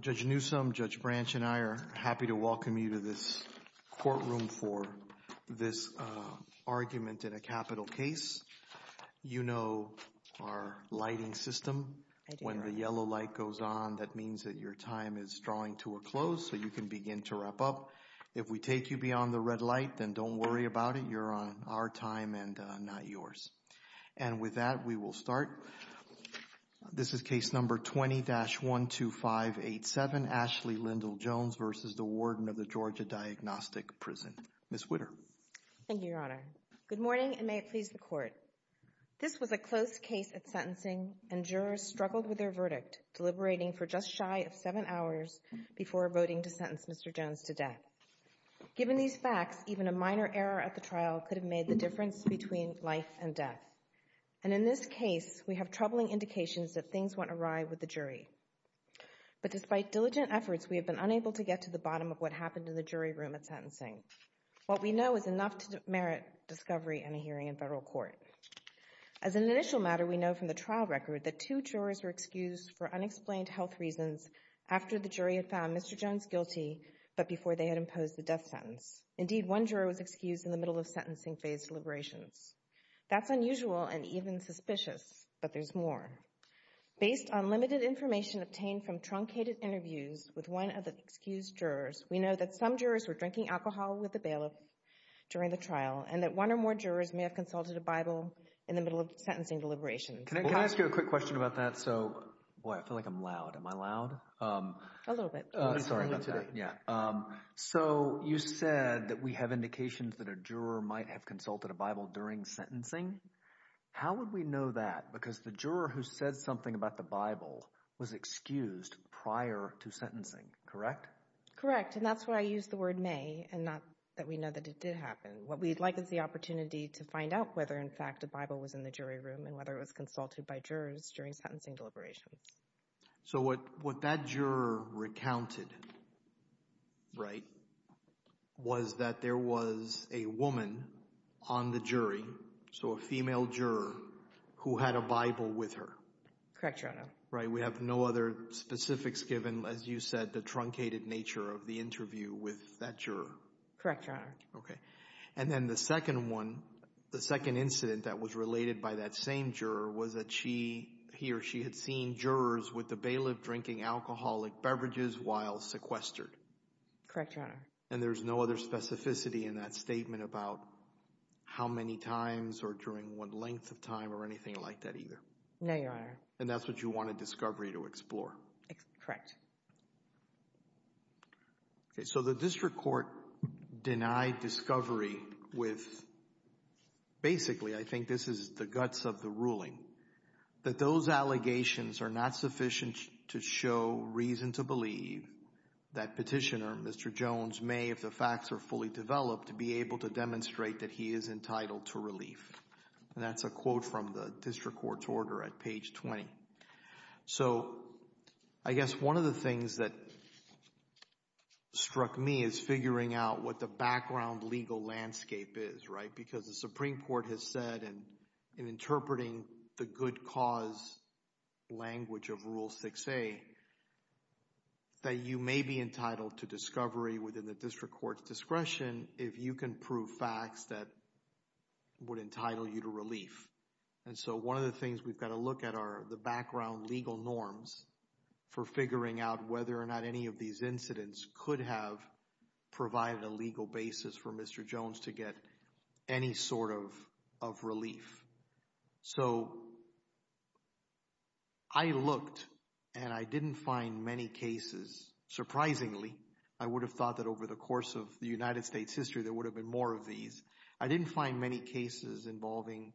Judge Newsome, Judge Branch and I are happy to welcome you to this courtroom for this argument in a capital case. You know our lighting system. When the yellow light goes on, that means that your time is drawing to a close, so you can begin to wrap up. If we take you on the red light, then don't worry about it. You're on our time and not yours. And with that, we will start. This is case number 20-12587, Ashley Lyndol Jones v. the Warden of the Georgia Diagnostic Prison. Ms. Witter. Thank you, Your Honor. Good morning and may it please the Court. This was a close case at sentencing and jurors struggled with their verdict, deliberating for just shy of seven hours before voting to sentence Mr. Jones to death. Given these facts, even a minor error at the trial could have made the difference between life and death. And in this case, we have troubling indications that things went awry with the jury. But despite diligent efforts, we have been unable to get to the bottom of what happened in the jury room at sentencing. What we know is enough to merit discovery and a hearing in federal court. As an initial matter, we know from the trial record that two jurors were excused for unexplained health reasons after the jury had found Mr. Jones guilty, but before they had imposed the death sentence. Indeed, one juror was excused in the middle of sentencing phase deliberations. That's unusual and even suspicious, but there's more. Based on limited information obtained from truncated interviews with one of the excused jurors, we know that some jurors were drinking alcohol with the bailiff during the trial and that one or more jurors may have consulted a Bible in the middle of sentencing deliberations. Can I ask you a quick question about that? So, boy, I feel like I'm loud. Am I loud? A little bit. Sorry about that. A little bit. Yeah. So, you said that we have indications that a juror might have consulted a Bible during sentencing. How would we know that? Because the juror who said something about the Bible was excused prior to sentencing, correct? Correct. And that's why I used the word may and not that we know that it did happen. What we'd like is the opportunity to find out whether, in fact, a Bible was in the jury room and whether it was consulted by jurors during sentencing deliberations. So what that juror recounted, right, was that there was a woman on the jury, so a female juror, who had a Bible with her. Correct, Your Honor. Right. We have no other specifics given, as you said, the truncated nature of the interview with that juror. Correct, Your Honor. Okay. And then the second one, the second incident that was related by that same juror was that she, he or she had seen jurors with the bailiff drinking alcoholic beverages while sequestered. Correct, Your Honor. And there's no other specificity in that statement about how many times or during what length of time or anything like that either? No, Your Honor. And that's what you want a discovery to explore? Correct. Okay. So the district court denied discovery with, basically, I think this is the guts of the ruling, that those allegations are not sufficient to show reason to believe that petitioner, Mr. Jones, may, if the facts are fully developed, be able to demonstrate that he is entitled to relief. And that's a quote from the district court's order at page 20. So, I guess one of the things that struck me is figuring out what the background legal landscape is, right? Because the Supreme Court has said in interpreting the good cause language of Rule 6a, that you may be entitled to discovery within the district court's discretion if you can prove facts that would entitle you to relief. And so one of the things we've got to look at are the background legal norms for figuring out whether or not any of these incidents could have provided a legal basis for Mr. Jones to get any sort of relief. So I looked, and I didn't find many cases, surprisingly, I would have thought that over the course of the United States history there would have been more of these, I didn't find many cases involving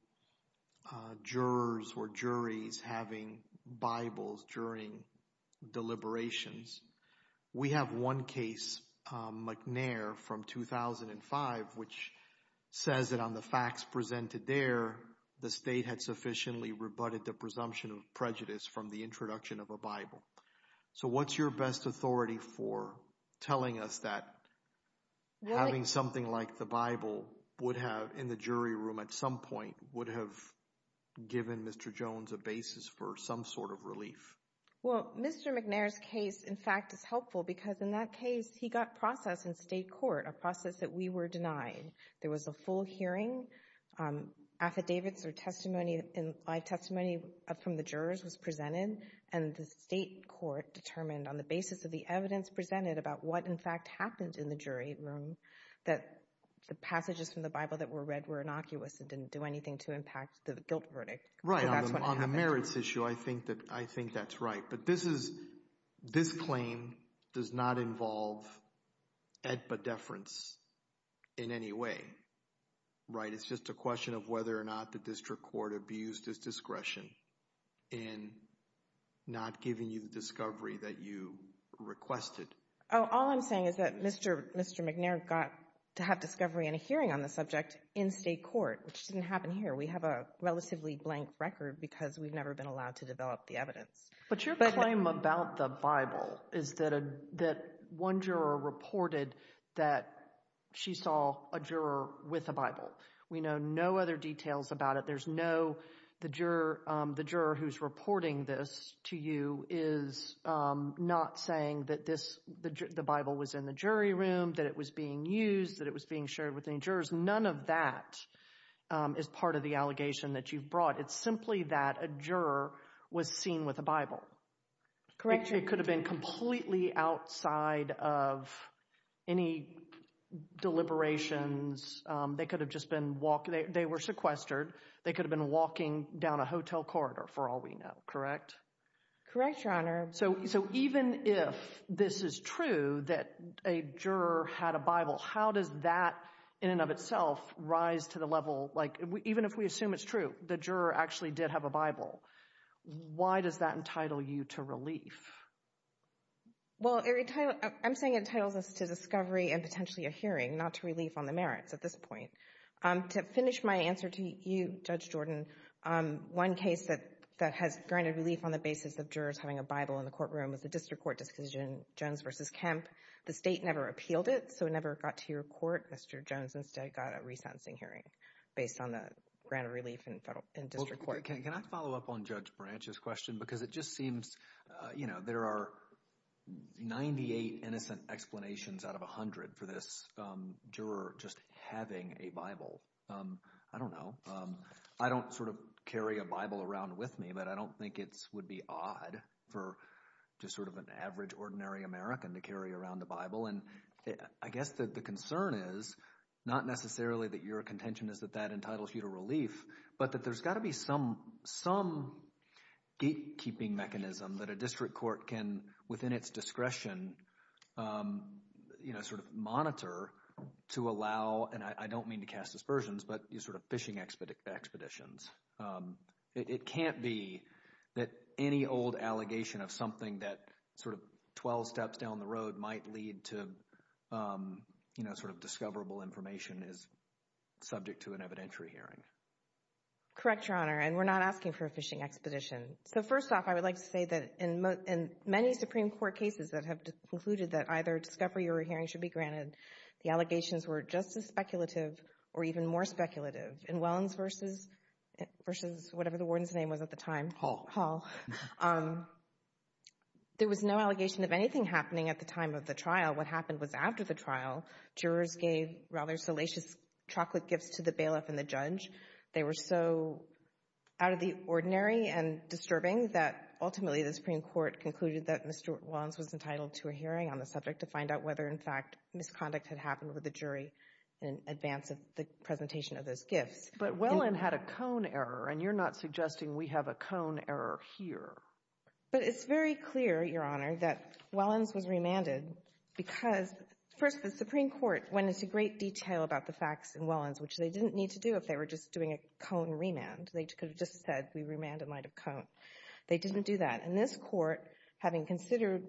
jurors or juries having Bibles during deliberations. We have one case, McNair from 2005, which says that on the facts presented there the state had sufficiently rebutted the presumption of prejudice from the introduction of a Bible. So what's your best authority for telling us that having something like the Bible would have in the jury room at some point would have given Mr. Jones a basis for some sort of relief? Well, Mr. McNair's case, in fact, is helpful because in that case he got process in state court, a process that we were denied. There was a full hearing, affidavits or testimony, live testimony from the jurors was presented, and the state court determined on the basis of the evidence presented about what in fact happened in the jury room that the passages from the Bible that were read were innocuous and didn't do anything to impact the guilt verdict. Right, on the merits issue, I think that's right, but this is, this claim does not involve edba deference in any way, right? It's just a question of whether or not the district court abused its discretion in not giving you the discovery that you requested. Oh, all I'm saying is that Mr. McNair got to have discovery and a hearing on the subject in state court, which didn't happen here. We have a relatively blank record because we've never been allowed to develop the evidence. But your claim about the Bible is that one juror reported that she saw a juror with a Bible. We know no other details about it. There's no, the juror, the juror who's reporting this to you is not saying that this, the Bible was in the jury room, that it was being used, that it was being shared with any jurors. None of that is part of the allegation that you've brought. It's simply that a juror was seen with a Bible. Correct. It could have been completely outside of any deliberations. They could have just been walking, they were sequestered. They could have been walking down a hotel corridor for all we know. Correct? Correct, Your Honor. So, so even if this is true that a juror had a Bible, how does that in and of itself rise to the level, like even if we assume it's true, the juror actually did have a Bible, why does that entitle you to relief? Well, I'm saying it entitles us to discovery and potentially a hearing, not to relief on the merits at this point. To finish my answer to you, Judge Jordan, one case that has granted relief on the basis of jurors having a Bible in the courtroom was the district court decision, Jones v. Kemp. The state never appealed it, so it never got to your court. Mr. Jones instead got a resentencing hearing based on the grant of relief in federal, in district court. Can I follow up on Judge Branch's question? Because it just seems, you know, there are 98 innocent explanations out of 100 for this juror just having a Bible. I don't know. I don't sort of carry a Bible around with me, but I don't think it would be odd for just sort of an average, ordinary American to carry around a Bible. And I guess that the concern is not necessarily that your contention is that that entitles you to relief, but that there's got to be some gatekeeping mechanism that a district court can, within its discretion, you know, sort of monitor to allow, and I don't mean to cast aspersions, but sort of fishing expeditions. It can't be that any old allegation of something that sort of 12 steps down the road might lead to, you know, sort of discoverable information is subject to an evidentiary hearing. Correct, Your Honor, and we're not asking for a fishing expedition. So first off, I would like to say that in many Supreme Court cases that have concluded that either discovery or a hearing should be granted, the allegations were just as speculative or even more speculative. In Wellens v. whatever the warden's name was at the time, Hall, there was no allegation of anything happening at the time of the trial. What happened was after the trial, jurors gave rather salacious chocolate gifts to the bailiff and the judge. They were so out of the ordinary and disturbing that ultimately the Supreme Court concluded that Mr. Wellens was entitled to a hearing on the subject to find out whether in fact misconduct had happened with the jury in advance of the presentation of those gifts. But Wellen had a cone error, and you're not suggesting we have a cone error here. But it's very clear, Your Honor, that Wellens was remanded because, first, the Supreme Court went into great detail about the facts in Wellens, which they didn't need to do if they were just doing a cone remand. They could have just said we remanded in light of cone. They didn't do that. And this Court, having considered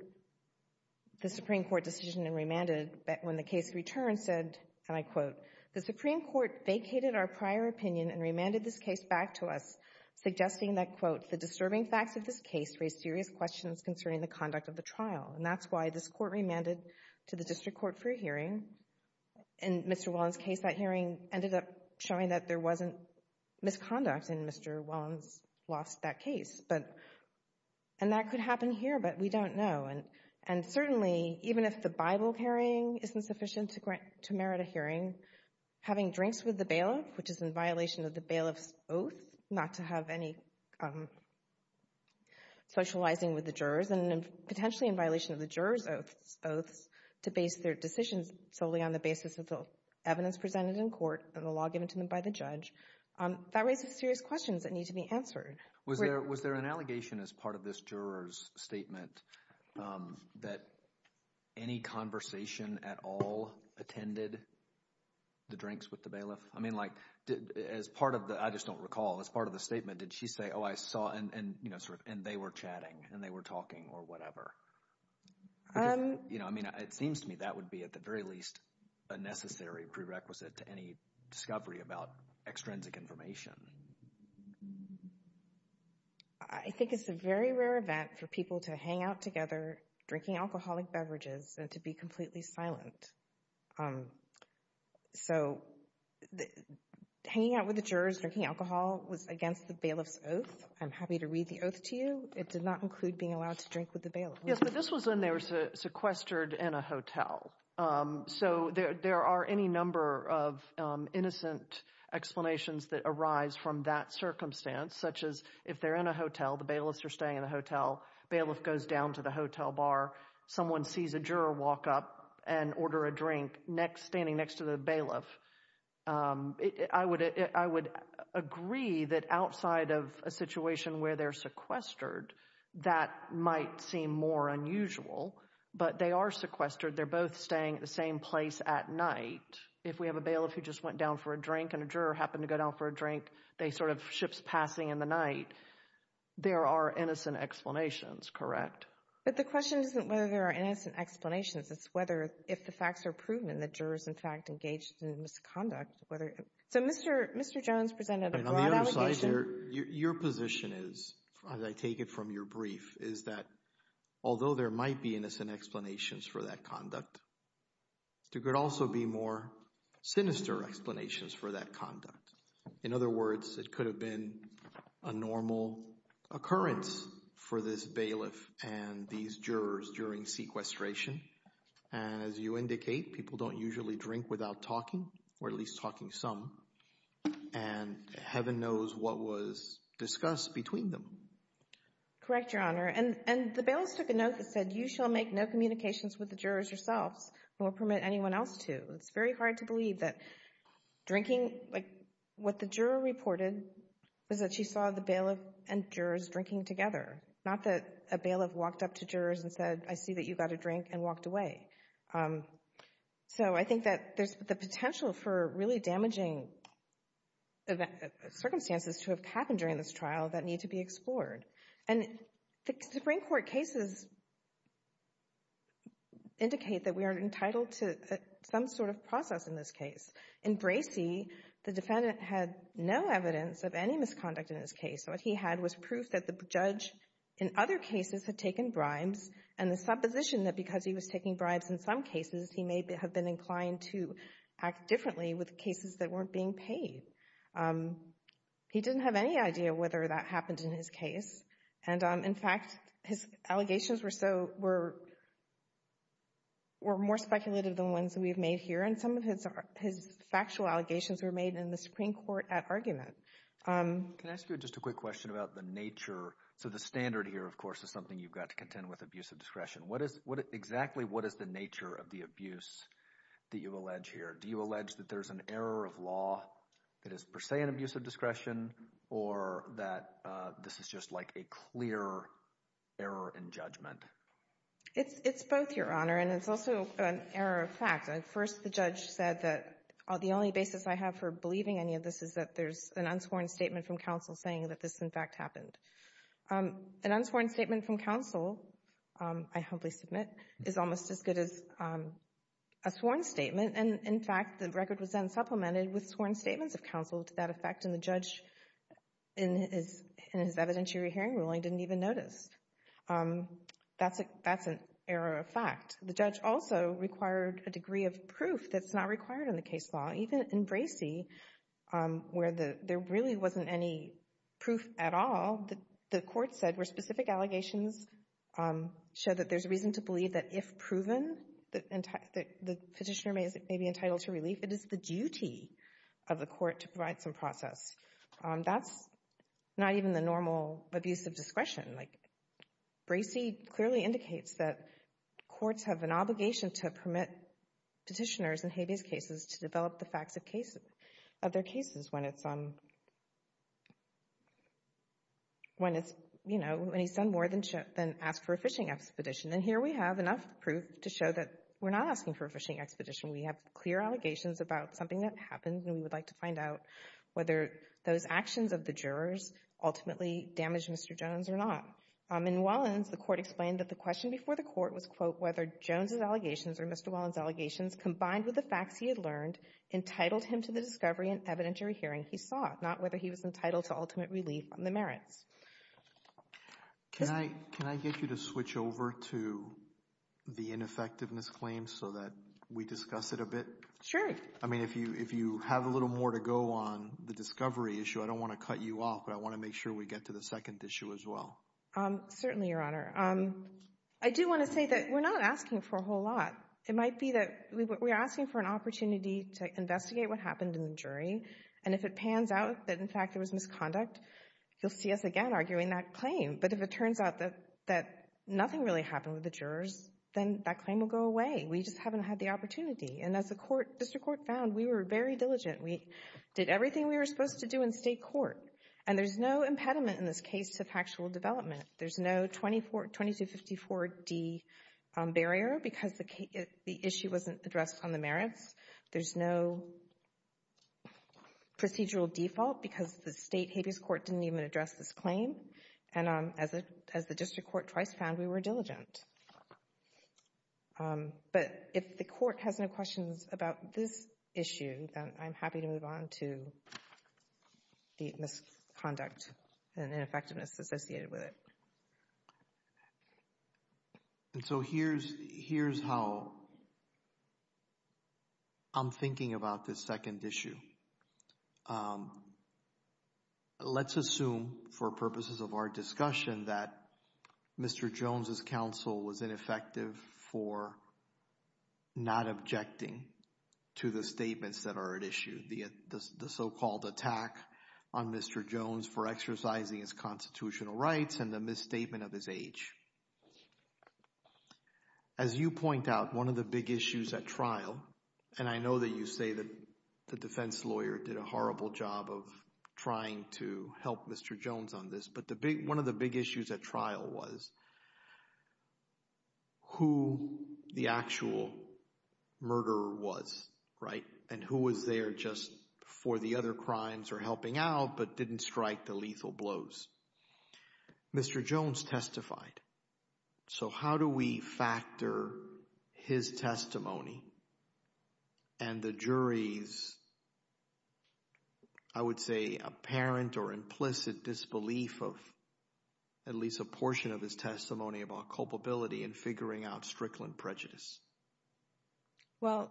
the Supreme Court decision and remanded when the case returned, said, and I quote, the Supreme Court vacated our prior opinion and remanded this case back to us, suggesting that, quote, the disturbing facts of this case raise serious questions concerning the conduct of the trial. And that's why this Court remanded to the district court for a hearing. In Mr. Wellens' case, that hearing ended up showing that there wasn't misconduct, and Mr. Wellens lost that case. But, and that could happen here, but we don't know. And certainly, even if the Bible carrying isn't sufficient to merit a hearing, having drinks with the bailiff, which is in violation of the bailiff's oath not to have any socializing with the jurors, and potentially in violation of the jurors' oaths to base their decisions solely on the basis of the evidence presented in court and the law given to them by the judge, that raises serious questions that need to be answered. Was there an allegation as part of this juror's statement that any conversation at all attended the drinks with the bailiff? I mean, like, as part of the, I just don't recall, as part of the statement, did she say, oh, I saw, and, you know, sort of, and they were chatting, and they were talking or whatever? Because, you know, I mean, it seems to me that would be, at the very least, a necessary prerequisite to any discovery about extrinsic information. I think it's a very rare event for people to hang out together drinking alcoholic beverages and to be completely silent. So hanging out with the jurors, drinking alcohol was against the bailiff's oath. I'm happy to read the oath to you. It did not include being allowed to drink with the bailiff. Yes, but this was when they were sequestered in a hotel. So there are any number of innocent explanations that arise from that circumstance, such as if they're in a hotel, the bailiffs are staying in a hotel, bailiff goes down to the hotel bar, someone sees a juror walk up and order a drink next, standing next to the bailiff. I would agree that outside of a situation where they're sequestered, that might seem more unusual, but they are sequestered, they're both staying at the same place at night. If we have a bailiff who just went down for a drink and a juror happened to go down for a drink, they sort of, ships passing in the night, there are innocent explanations, correct? But the question isn't whether there are innocent explanations, it's whether, if the facts are engaged in a misconduct, whether, so Mr. Jones presented a broad allegation. Your position is, as I take it from your brief, is that although there might be innocent explanations for that conduct, there could also be more sinister explanations for that conduct. In other words, it could have been a normal occurrence for this bailiff and these jurors during sequestration, and as you indicate, people don't usually drink without talking, or at least talking some, and heaven knows what was discussed between them. Correct, Your Honor, and the bailiffs took a note that said, you shall make no communications with the jurors yourselves, nor permit anyone else to. It's very hard to believe that drinking, like, what the juror reported was that she saw the bailiff, I see that you got a drink and walked away. So I think that there's the potential for really damaging circumstances to have happened during this trial that need to be explored. And the Supreme Court cases indicate that we are entitled to some sort of process in this case. In Bracey, the defendant had no evidence of any misconduct in this case, so what he had was proof that the judge, in other cases, had taken bribes, and the supposition that because he was taking bribes in some cases, he may have been inclined to act differently with cases that weren't being paid. He didn't have any idea whether that happened in his case, and in fact, his allegations were so, were more speculative than ones that we've made here, and some of his factual allegations were made in the Supreme Court at argument. Can I ask you just a quick question about the nature, so the standard here, of course, is something you've got to contend with, abuse of discretion. Exactly what is the nature of the abuse that you allege here? Do you allege that there's an error of law that is per se an abuse of discretion, or that this is just like a clear error in judgment? It's both, Your Honor, and it's also an error of fact. First the judge said that the only basis I have for believing any of this is that there's an unsworn statement from counsel saying that this, in fact, happened. An unsworn statement from counsel, I humbly submit, is almost as good as a sworn statement, and in fact, the record was then supplemented with sworn statements of counsel to that effect, and the judge, in his evidentiary hearing ruling, didn't even notice. That's an error of fact. The judge also required a degree of proof that's not required in the case law, even in Bracey, where there really wasn't any proof at all. The court said where specific allegations show that there's a reason to believe that if proven, the petitioner may be entitled to relief. It is the duty of the court to provide some process. That's not even the normal abuse of discretion. Bracey clearly indicates that courts have an obligation to permit petitioners in habeas cases to develop the facts of their cases when it's, you know, when he's done more than ask for a fishing expedition, and here we have enough proof to show that we're not asking for a fishing expedition. We have clear allegations about something that happened, and we would like to find out whether those actions of the jurors ultimately damaged Mr. Jones or not. In Wallens, the court explained that the question before the court was, quote, whether Jones's he had learned entitled him to the discovery and evidentiary hearing he sought, not whether he was entitled to ultimate relief on the merits. Can I get you to switch over to the ineffectiveness claim so that we discuss it a bit? Sure. I mean, if you have a little more to go on the discovery issue, I don't want to cut you off, but I want to make sure we get to the second issue as well. Certainly, Your Honor. I do want to say that we're not asking for a whole lot. It might be that we're asking for an opportunity to investigate what happened in the jury, and if it pans out that, in fact, there was misconduct, you'll see us again arguing that claim. But if it turns out that nothing really happened with the jurors, then that claim will go away. We just haven't had the opportunity. And as the court, district court found, we were very diligent. We did everything we were supposed to do in state court, and there's no impediment in this case to factual development. There's no 2254D barrier because the issue wasn't addressed on the merits. There's no procedural default because the state habeas court didn't even address this claim, and as the district court twice found, we were diligent. But if the court has no questions about this issue, I'm happy to move on to the misconduct and the ineffectiveness associated with it. And so here's how I'm thinking about this second issue. Let's assume, for purposes of our discussion, that Mr. Jones' counsel was ineffective for not objecting to the statements that are at issue, the so-called attack on Mr. Jones for exercising his constitutional rights and the misstatement of his age. As you point out, one of the big issues at trial, and I know that you say that the defense lawyer did a horrible job of trying to help Mr. Jones on this, but one of the big issues at trial was who the actual murderer was, right, and who was there just for the other crimes or helping out but didn't strike the lethal blows. Mr. Jones testified, so how do we factor his testimony and the jury's, I would say, apparent or implicit disbelief of at least a portion of his testimony about culpability in figuring out Strickland prejudice? Well,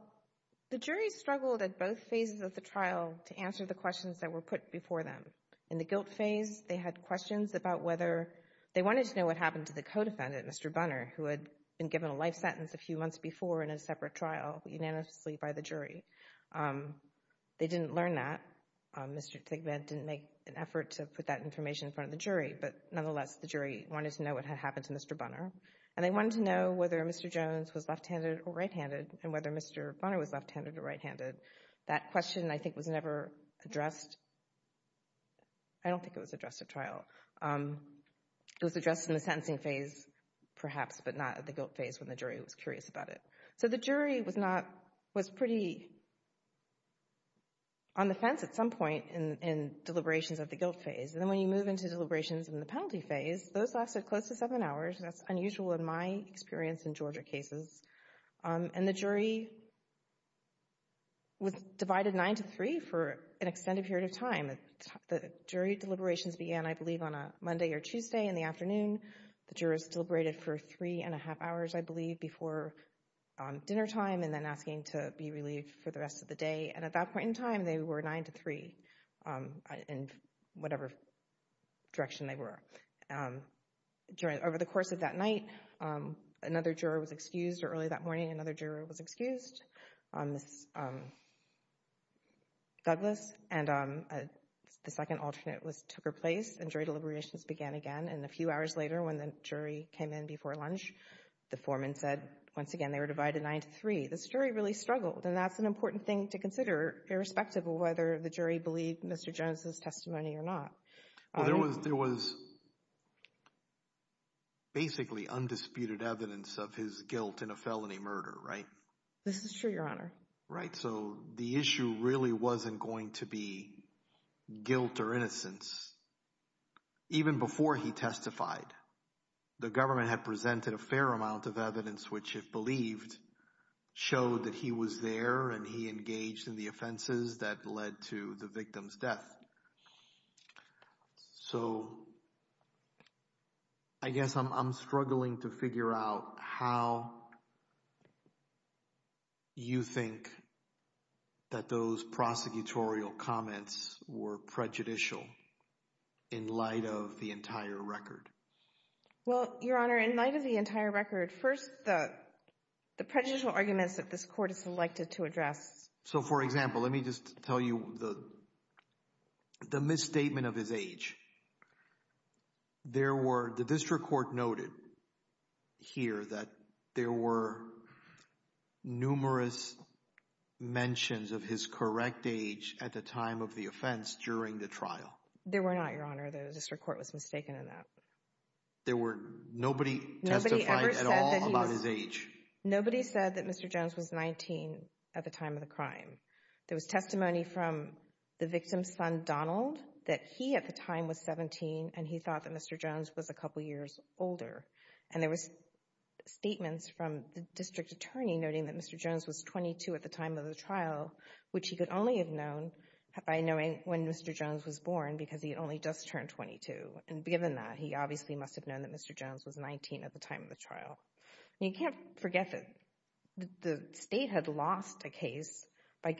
the jury struggled at both phases of the trial to answer the questions that were put before them. In the guilt phase, they had questions about whether they wanted to know what happened to the co-defendant, Mr. Bunner, who had been given a life sentence a few months before in a separate trial unanimously by the jury. They didn't learn that. Mr. Thigpen didn't make an effort to put that information in front of the jury, but nonetheless, the jury wanted to know what had happened to Mr. Bunner, and they wanted to know whether Mr. Jones was left-handed or right-handed, and whether Mr. Bunner was left-handed or right-handed. That question, I think, was never addressed. I don't think it was addressed at trial. It was addressed in the sentencing phase, perhaps, but not at the guilt phase when the jury was curious about it. So the jury was pretty on the fence at some point in deliberations of the guilt phase, and then when you move into deliberations in the penalty phase, those lasted close to Georgia cases, and the jury was divided nine to three for an extended period of time. The jury deliberations began, I believe, on a Monday or Tuesday in the afternoon. The jurors deliberated for three and a half hours, I believe, before dinnertime and then asking to be relieved for the rest of the day, and at that point in time, they were nine to three in whatever direction they were. So over the course of that night, another juror was excused early that morning, another juror was excused, Ms. Douglas, and the second alternate took her place, and jury deliberations began again, and a few hours later when the jury came in before lunch, the foreman said once again they were divided nine to three. This jury really struggled, and that's an important thing to consider irrespective of whether the jury believed Mr. Jones' testimony or not. There was basically undisputed evidence of his guilt in a felony murder, right? This is true, Your Honor. Right, so the issue really wasn't going to be guilt or innocence. Even before he testified, the government had presented a fair amount of evidence which, if believed, showed that he was there and he engaged in the offenses that led to the So I guess I'm struggling to figure out how you think that those prosecutorial comments were prejudicial in light of the entire record. Well, Your Honor, in light of the entire record, first the prejudicial arguments that this court has selected to address. So, for example, let me just tell you the misstatement of his age. There were, the district court noted here that there were numerous mentions of his correct age at the time of the offense during the trial. There were not, Your Honor. The district court was mistaken in that. There were, nobody testified at all about his age. Nobody said that Mr. Jones was 19 at the time of the crime. There was testimony from the victim's son, Donald, that he at the time was 17 and he thought that Mr. Jones was a couple years older. And there was statements from the district attorney noting that Mr. Jones was 22 at the time of the trial, which he could only have known by knowing when Mr. Jones was born because he had only just turned 22. And given that, he obviously must have known that Mr. Jones was 19 at the time of the trial. You can't forget that the state had lost a case by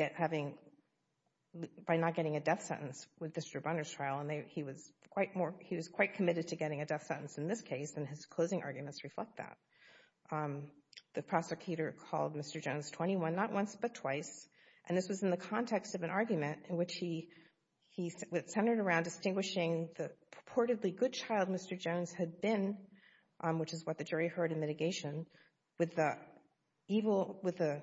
not getting a death sentence with Mr. Brunner's trial, and he was quite committed to getting a death sentence in this case, and his closing arguments reflect that. The prosecutor called Mr. Jones 21, not once but twice, and this was in the context of an argument in which he centered around distinguishing the purportedly good child Mr. Jones had been, which is what the jury heard in mitigation, with the evil, with the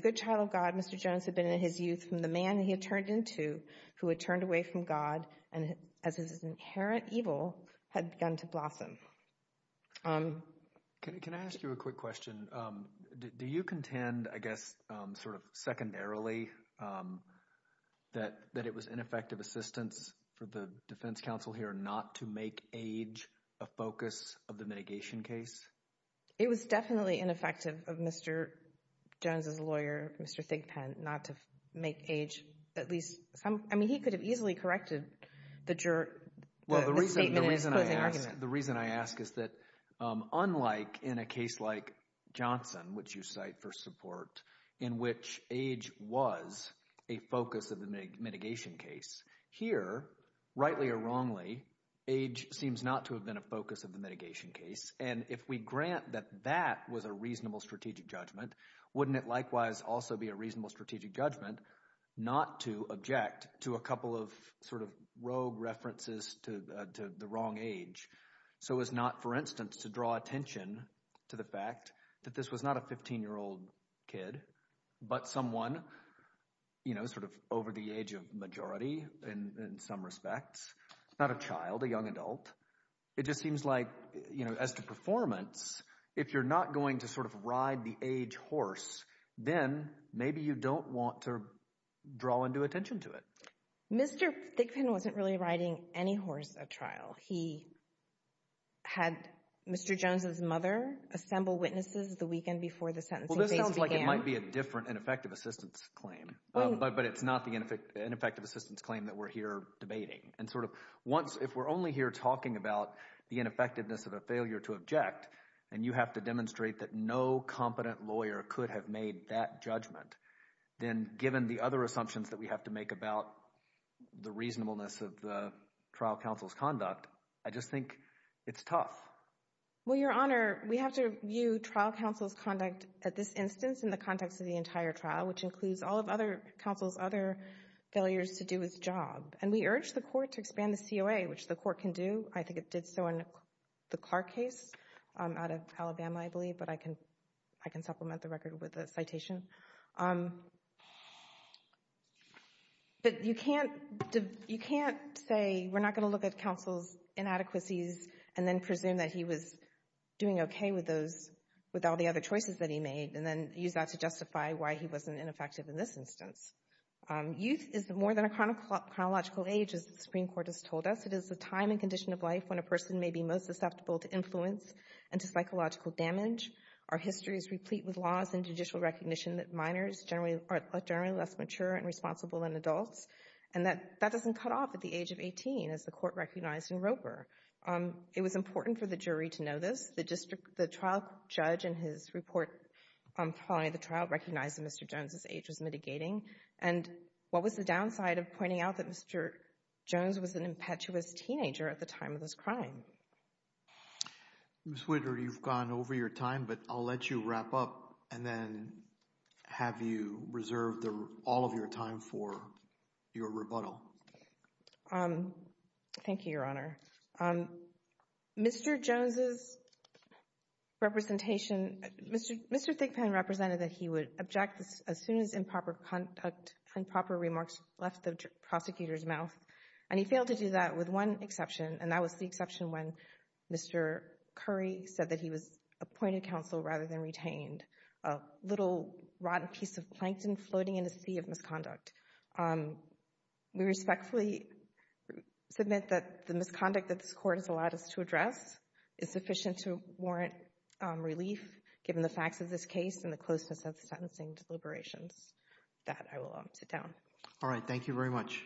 good child of God Mr. Jones had been in his youth from the man he had turned into who had turned away from God and as his inherent evil had begun to blossom. Can I ask you a quick question? Do you contend, I guess sort of secondarily, that it was ineffective assistance for the focus of the mitigation case? It was definitely ineffective of Mr. Jones' lawyer, Mr. Thigpen, not to make age at least some, I mean, he could have easily corrected the statement in his closing argument. Well, the reason I ask is that unlike in a case like Johnson, which you cite for support, in which age was a focus of the mitigation case, here, rightly or wrongly, age seems not to have been a focus of the mitigation case, and if we grant that that was a reasonable strategic judgment, wouldn't it likewise also be a reasonable strategic judgment not to object to a couple of sort of rogue references to the wrong age? So as not, for instance, to draw attention to the fact that this was not a 15-year-old kid but someone, you know, sort of over the age of majority in some respects, not a child, a young adult, it just seems like, you know, as to performance, if you're not going to sort of ride the age horse, then maybe you don't want to draw into attention to it. Mr. Thigpen wasn't really riding any horse at trial. He had Mr. Jones' mother assemble witnesses the weekend before the sentencing case began. Well, this sounds like it might be a different ineffective assistance claim, but it's not the ineffective assistance claim that we're here debating, and sort of once, if we're only here talking about the ineffectiveness of a failure to object, and you have to demonstrate that no competent lawyer could have made that judgment, then given the other assumptions that we have to make about the reasonableness of the trial counsel's conduct, I just think it's tough. Well, Your Honor, we have to view trial counsel's conduct at this instance in the context of the entire trial, which includes all of other counsel's other failures to do his job, and we urge the Court to expand the COA, which the Court can do. I think it did so in the Clark case out of Alabama, I believe, but I can supplement the record with a citation, but you can't say we're not going to look at counsel's inadequacies and then presume that he was doing okay with all the other choices that he made and then use that to justify why he wasn't ineffective in this instance. Youth is more than a chronological age, as the Supreme Court has told us. It is the time and condition of life when a person may be most susceptible to influence and to psychological damage. Our history is replete with laws and judicial recognition that minors are generally less mature and responsible than adults, and that doesn't cut off at the age of 18, as the Court recognized in Roper. It was important for the jury to know this. The trial judge in his report following the trial recognized that Mr. Jones's age was and what was the downside of pointing out that Mr. Jones was an impetuous teenager at the time of this crime? Ms. Whitter, you've gone over your time, but I'll let you wrap up and then have you reserve all of your time for your rebuttal. Thank you, Your Honor. Mr. Jones's representation, Mr. Thigpen represented that he would object as soon as improper remarks left the prosecutor's mouth, and he failed to do that with one exception, and that was the exception when Mr. Curry said that he was appointed counsel rather than retained, a little rotten piece of plankton floating in a sea of misconduct. We respectfully submit that the misconduct that this Court has allowed us to address is sufficient to warrant relief, given the facts of this case and the closeness of sentencing deliberations. With that, I will sit down. All right. Thank you very much.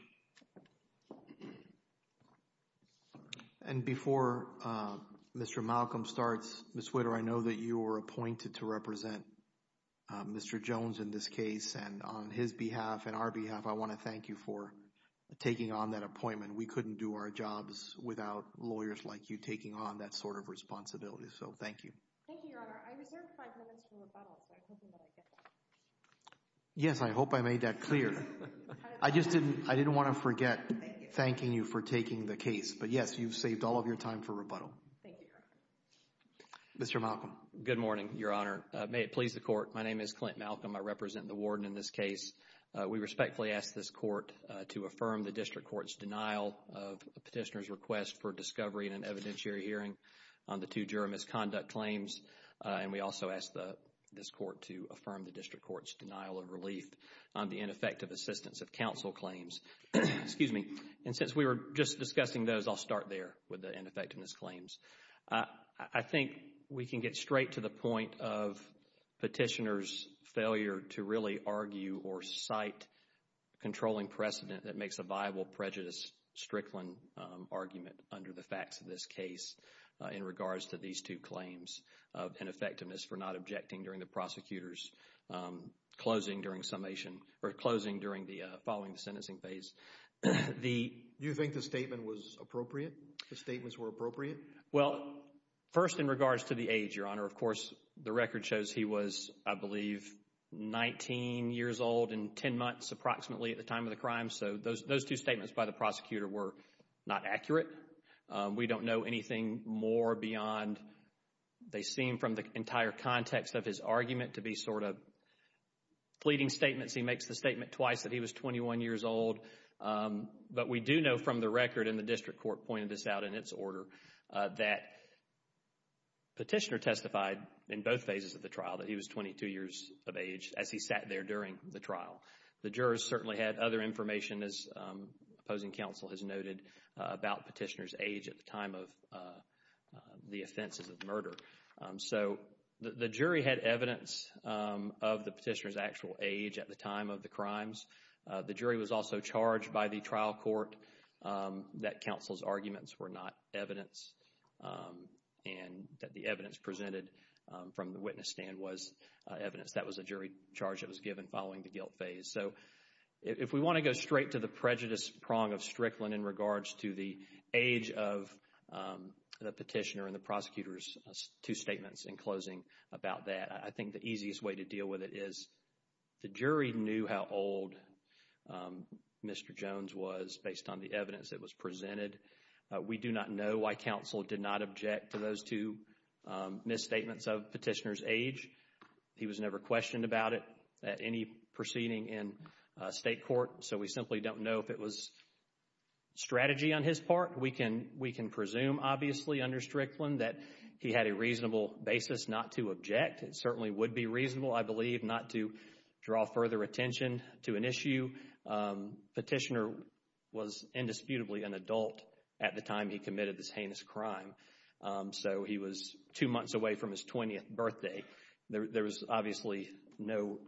And before Mr. Malcolm starts, Ms. Whitter, I know that you were appointed to represent Mr. Jones in this case, and on his behalf and our behalf, I want to thank you for taking on that appointment. We couldn't do our jobs without lawyers like you taking on that sort of responsibility, so thank you. Thank you, Your Honor. I reserved five minutes for rebuttal, so I'm hoping that I get that. Yes, I hope I made that clear. I didn't want to forget thanking you for taking the case, but yes, you've saved all of your time for rebuttal. Thank you, Your Honor. Mr. Malcolm. Good morning, Your Honor. May it please the Court. My name is Clint Malcolm. I represent the warden in this case. We respectfully ask this Court to affirm the district court's denial of a petitioner's request for discovery in an evidentiary hearing on the two juror misconduct claims, and we of relief on the ineffective assistance of counsel claims. Excuse me. And since we were just discussing those, I'll start there with the ineffectiveness claims. I think we can get straight to the point of petitioner's failure to really argue or cite controlling precedent that makes a viable prejudice strickland argument under the facts of this case in regards to these two claims of ineffectiveness for not objecting during the prosecutor's closing during summation, or closing following the sentencing phase. Do you think the statement was appropriate? The statements were appropriate? Well, first in regards to the age, Your Honor. Of course, the record shows he was, I believe, 19 years old and 10 months approximately at the time of the crime, so those two statements by the prosecutor were not accurate. We don't know anything more beyond, they seem from the entire context of his argument to be sort of fleeting statements. He makes the statement twice that he was 21 years old, but we do know from the record, and the district court pointed this out in its order, that petitioner testified in both phases of the trial that he was 22 years of age as he sat there during the trial. The jurors certainly had other information, as opposing counsel has noted, about petitioner's age at the time of the offenses of murder. So the jury had evidence of the petitioner's actual age at the time of the crimes. The jury was also charged by the trial court that counsel's arguments were not evidence and that the evidence presented from the witness stand was evidence. That was a jury charge that was given following the guilt phase. So if we want to go straight to the prejudice prong of Strickland in regards to the age of the petitioner and the prosecutor's two statements in closing about that, I think the easiest way to deal with it is the jury knew how old Mr. Jones was based on the evidence that was presented. We do not know why counsel did not object to those two misstatements of petitioner's age. He was never questioned about it at any proceeding in state court. So we simply don't know if it was strategy on his part. We can presume, obviously, under Strickland that he had a reasonable basis not to object. It certainly would be reasonable, I believe, not to draw further attention to an issue. Petitioner was indisputably an adult at the time he committed this heinous crime. So he was two months away from his 20th birthday. There was obviously no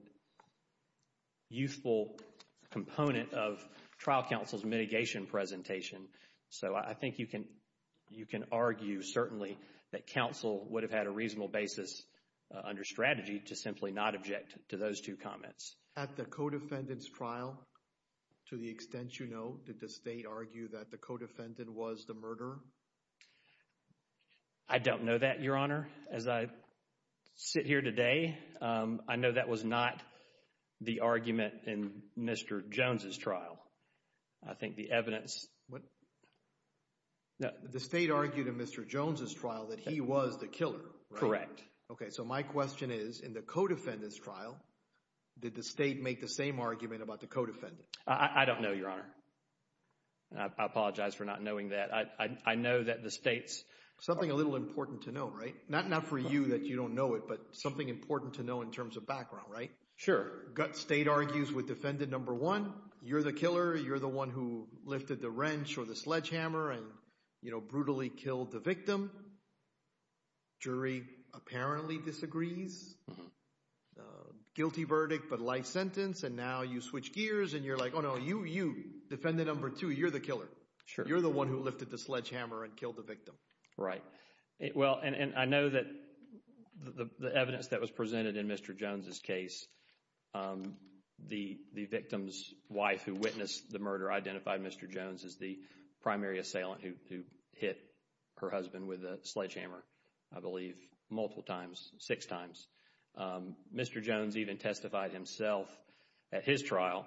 youthful component of trial counsel's mitigation presentation. So I think you can argue certainly that counsel would have had a reasonable basis under strategy to simply not object to those two comments. At the co-defendant's trial, to the extent you know, did the state argue that the co-defendant was the murderer? I don't know that, Your Honor. As I sit here today, I know that was not the argument in Mr. Jones's trial. I think the evidence... The state argued in Mr. Jones's trial that he was the killer, right? Correct. Okay. So my question is, in the co-defendant's trial, did the state make the same argument about the co-defendant? I don't know, Your Honor. I apologize for not knowing that. I know that the state's... Something a little important to know, right? Not for you that you don't know it, but something important to know in terms of background, right? Sure. Gut state argues with defendant number one. You're the killer. You're the one who lifted the wrench or the sledgehammer and, you know, brutally killed the victim. Jury apparently disagrees. Guilty verdict, but life sentence. And now you switch gears and you're like, oh no, you, defendant number two, you're the killer. Sure. You're the one who lifted the sledgehammer and killed the victim. Right. Well, and I know that the evidence that was presented in Mr. Jones's case, the victim's wife who witnessed the murder identified Mr. Jones as the primary assailant who hit her husband with a sledgehammer, I believe, multiple times, six times. Mr. Jones even testified himself at his trial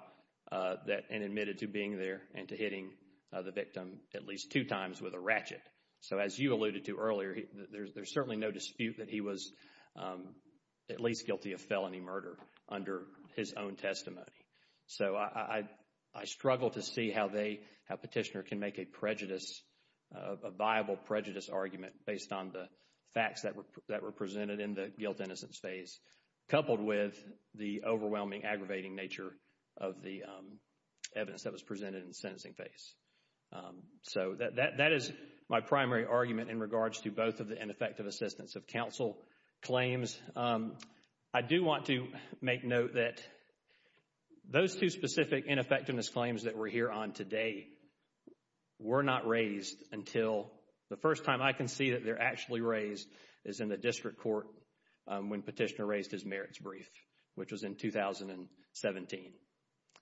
and admitted to being there and to hitting the victim at least two times with a ratchet. So as you alluded to earlier, there's certainly no dispute that he was at least guilty of felony murder under his own testimony. So I struggle to see how they, how petitioner can make a prejudice, a viable prejudice argument based on the facts that were presented in the guilt-innocence phase, coupled with the overwhelming, aggravating nature of the evidence that was presented in the sentencing phase. So that is my primary argument in regards to both of the ineffective assistance of counsel claims. I do want to make note that those two specific ineffectiveness claims that we're here on today were not raised until the first time I can see that they're actually raised is in the district court when petitioner raised his merits brief, which was in 2017.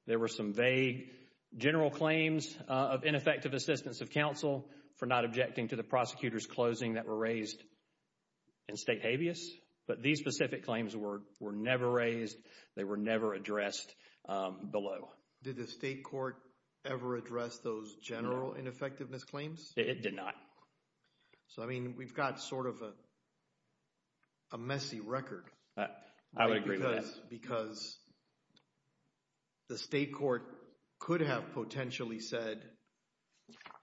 There were some vague general claims of ineffective assistance of counsel for not objecting to the prosecutor's closing that were raised in state habeas, but these specific claims were never raised. They were never addressed below. Did the state court ever address those general ineffectiveness claims? It did not. So, I mean, we've got sort of a messy record. I would agree with that. Because the state court could have potentially said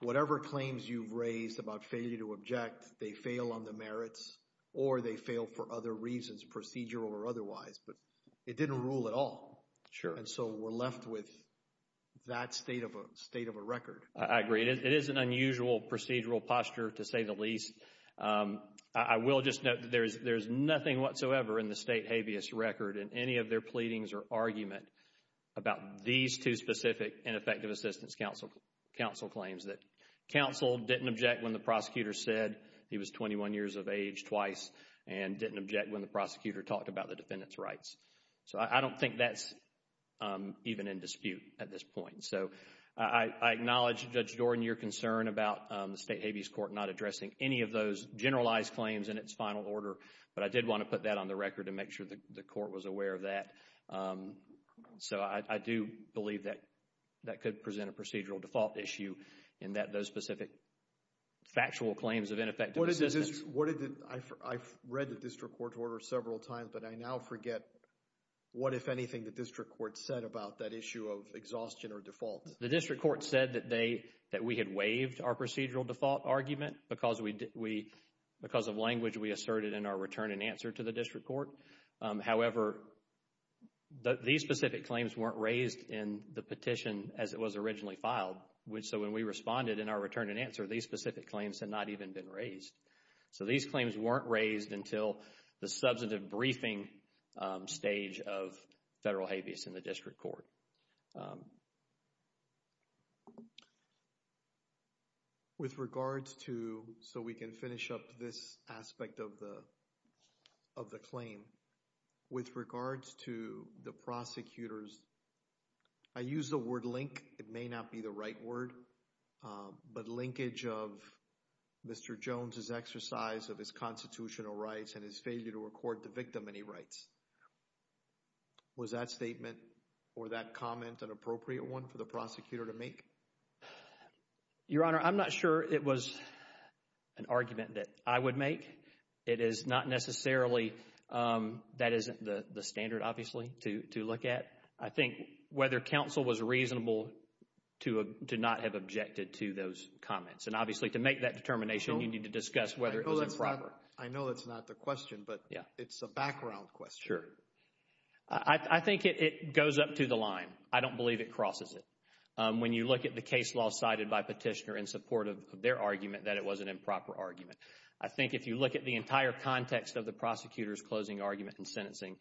whatever claims you've raised about failure to object, they fail on the merits or they fail for other reasons, procedural or otherwise, but it didn't rule at all. Sure. And so we're left with that state of a record. I agree. It is an unusual procedural posture to say the least. I will just note that there's nothing whatsoever in the state habeas record in any of their pleadings or argument about these two specific ineffective assistance counsel claims that counsel didn't object when the prosecutor said he was 21 years of age twice and didn't object when the prosecutor talked about the defendant's rights. So I don't think that's even in dispute at this point. So I acknowledge, Judge Jordan, your concern about the state habeas court not addressing any of those generalized claims in its final order, but I did want to put that on the record to make sure that the court was aware of that. So I do believe that that could present a procedural default issue in that those specific factual claims of ineffective assistance. What is this? I've read the district court order several times, but I now forget what, if anything, the district court said about that issue of exhaustion or default. The district court said that we had waived our procedural default argument because of language we asserted in our return and answer to the district court. However, these specific claims weren't raised in the petition as it was originally filed. So when we responded in our return and answer, these specific claims had not even been raised. So these claims weren't raised until the substantive briefing stage of federal habeas in the district court. With regards to, so we can finish up this aspect of the claim, with regards to the prosecutors, I use the word link. It may not be the right word, but linkage of Mr. Jones's exercise of his constitutional rights and his failure to record the victim any rights. Was that statement or that comment an appropriate one for the prosecutor to make? Your Honor, I'm not sure it was an argument that I would make. It is not necessarily, that isn't the standard, obviously, to look at. I think whether counsel was reasonable to not have objected to those comments. And obviously, to make that determination, you need to discuss whether it was improper. I know that's not the question, but it's a background question. Sure, I think it goes up to the line. I don't believe it crosses it. When you look at the case law cited by Petitioner in support of their argument, that it was an improper argument. I think if you look at the entire context of the prosecutor's closing argument and sentencing,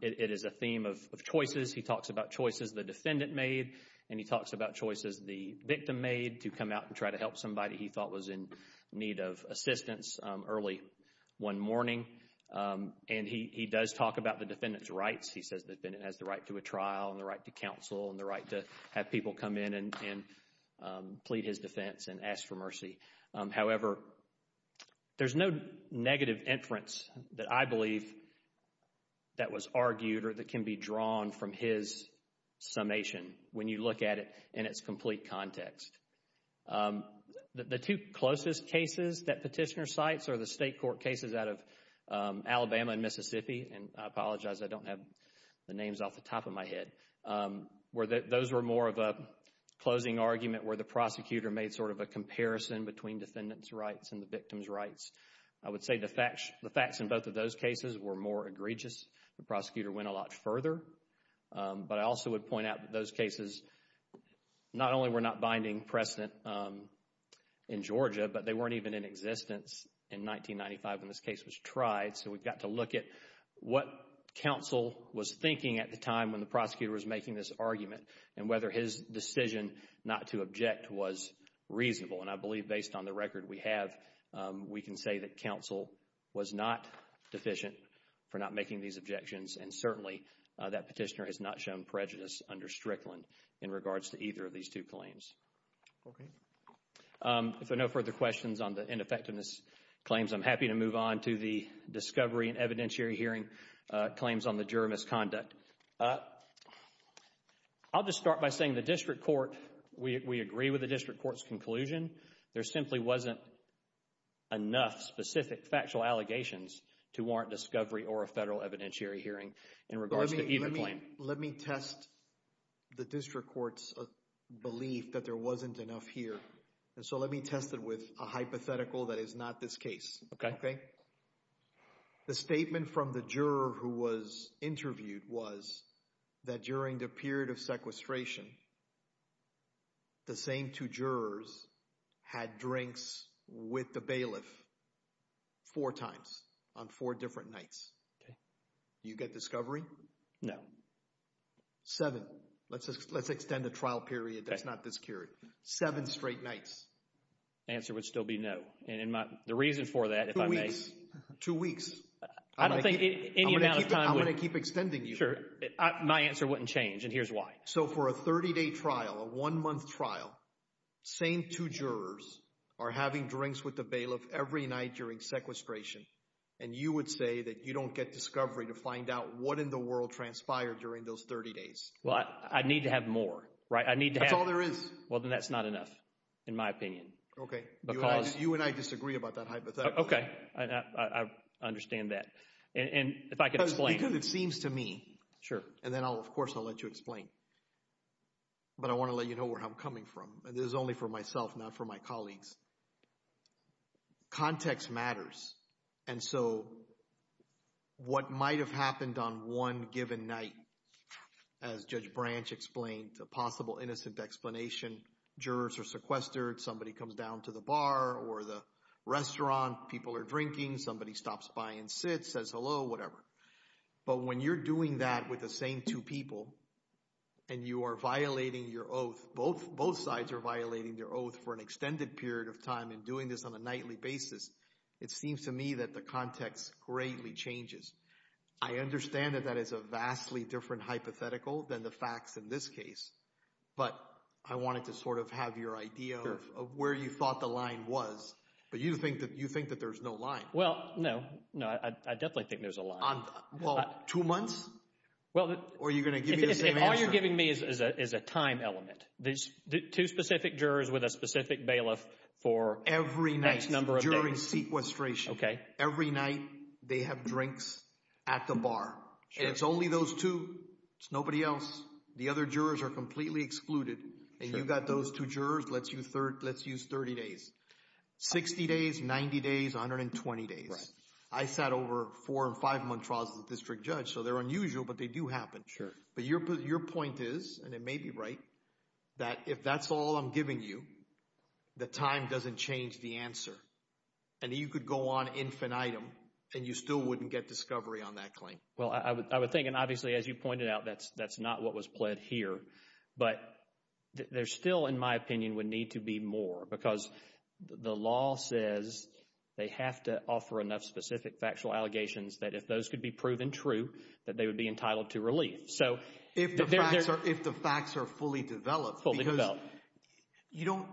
it is a theme of choices. He talks about choices the defendant made and he talks about choices the victim made to come out and try to help somebody he thought was in need of assistance early one morning. And he does talk about the defendant's rights. He says the defendant has the right to a trial and the right to counsel and the right to have people come in and plead his defense and ask for mercy. However, there's no negative inference that I believe that was argued or that can be drawn from his summation when you look at it in its complete context. The two closest cases that Petitioner cites are the state court cases out of Alabama and Mississippi, and I apologize, I don't have the names off the top of my head, where those were more of a closing argument where the prosecutor made sort of a comparison between defendant's rights and the victim's rights. I would say the facts in both of those cases were more egregious. The prosecutor went a lot further. But I also would point out that those cases not only were not binding precedent in Georgia, but they weren't even in existence in 1995 when this case was tried. So we got to look at what counsel was thinking at the time when the prosecutor was making this argument and whether his decision not to object was reasonable. And I believe based on the record we have, we can say that counsel was not deficient for not making these objections and certainly that Petitioner has not shown prejudice under Strickland in regards to either of these two claims. Okay. If there are no further questions on the ineffectiveness claims, I'm happy to move on to the discovery and evidentiary hearing claims on the juror misconduct. I'll just start by saying the district court, we agree with the district court's conclusion. There simply wasn't enough specific factual allegations to warrant discovery or a federal evidentiary hearing in regards to either claim. Let me test the district court's belief that there wasn't enough here. And so let me test it with a hypothetical that is not this case. Okay. Okay. The statement from the juror who was interviewed was that during the period of sequestration, the same two jurors had drinks with the bailiff four times on four different nights. Okay. Do you get discovery? No. Seven. Let's extend the trial period that's not this period. Seven straight nights. Answer would still be no. And the reason for that, if I may... Two weeks. I don't think any amount of time... I'm going to keep extending you. Sure. My answer wouldn't change and here's why. So for a 30-day trial, a one-month trial, same two jurors are having drinks with the bailiff every night during sequestration and you would say that you don't get discovery to find out what in the world transpired during those 30 days. Well, I need to have more, right? I need to have... That's all there is. Well, then that's not enough, in my opinion. Okay. You and I disagree about that hypothetical. Okay. I understand that. And if I could explain... Because it seems to me... Sure. And then, of course, I'll let you explain. But I want to let you know where I'm coming from. And this is only for myself, not for my colleagues. Context matters. And so what might have happened on one given night, as Judge Branch explained, a possible innocent explanation, jurors are sequestered, somebody comes down to the bar or the restaurant, people are drinking, somebody stops by and sits, says hello, whatever. But when you're doing that with the same two people and you are violating your oath, both sides are violating their oath for an extended period of time and doing this on a nightly basis, it seems to me that the context greatly changes. I understand that that is a vastly different hypothetical than the facts in this case. But I wanted to sort of have your idea of where you thought the line was. But you think that there's no line. Well, no. No, I definitely think there's a line. Well, two months? Well... Or are you going to give me the same answer? All you're giving me is a time element. Two specific jurors with a specific bailiff for... Every night during sequestration. Okay. Every night they have drinks at the bar. And it's only those two. It's nobody else. The other jurors are completely excluded. And you've got those two jurors, let's use 30 days. 60 days, 90 days, 120 days. Right. I sat over four and five-month trials as a district judge. So they're unusual, but they do happen. Sure. But your point is, and it may be right, that if that's all I'm giving you, the time doesn't change the answer. And you could go on infinitum and you still wouldn't get discovery on that claim. Well, I would think, and obviously as you pointed out, that's not what was pled here. But there still, in my opinion, would need to be more. Because the law says they have to offer enough specific factual allegations that if those could be proven true, that they would be entitled to relief. If the facts are fully developed. Fully developed. You don't...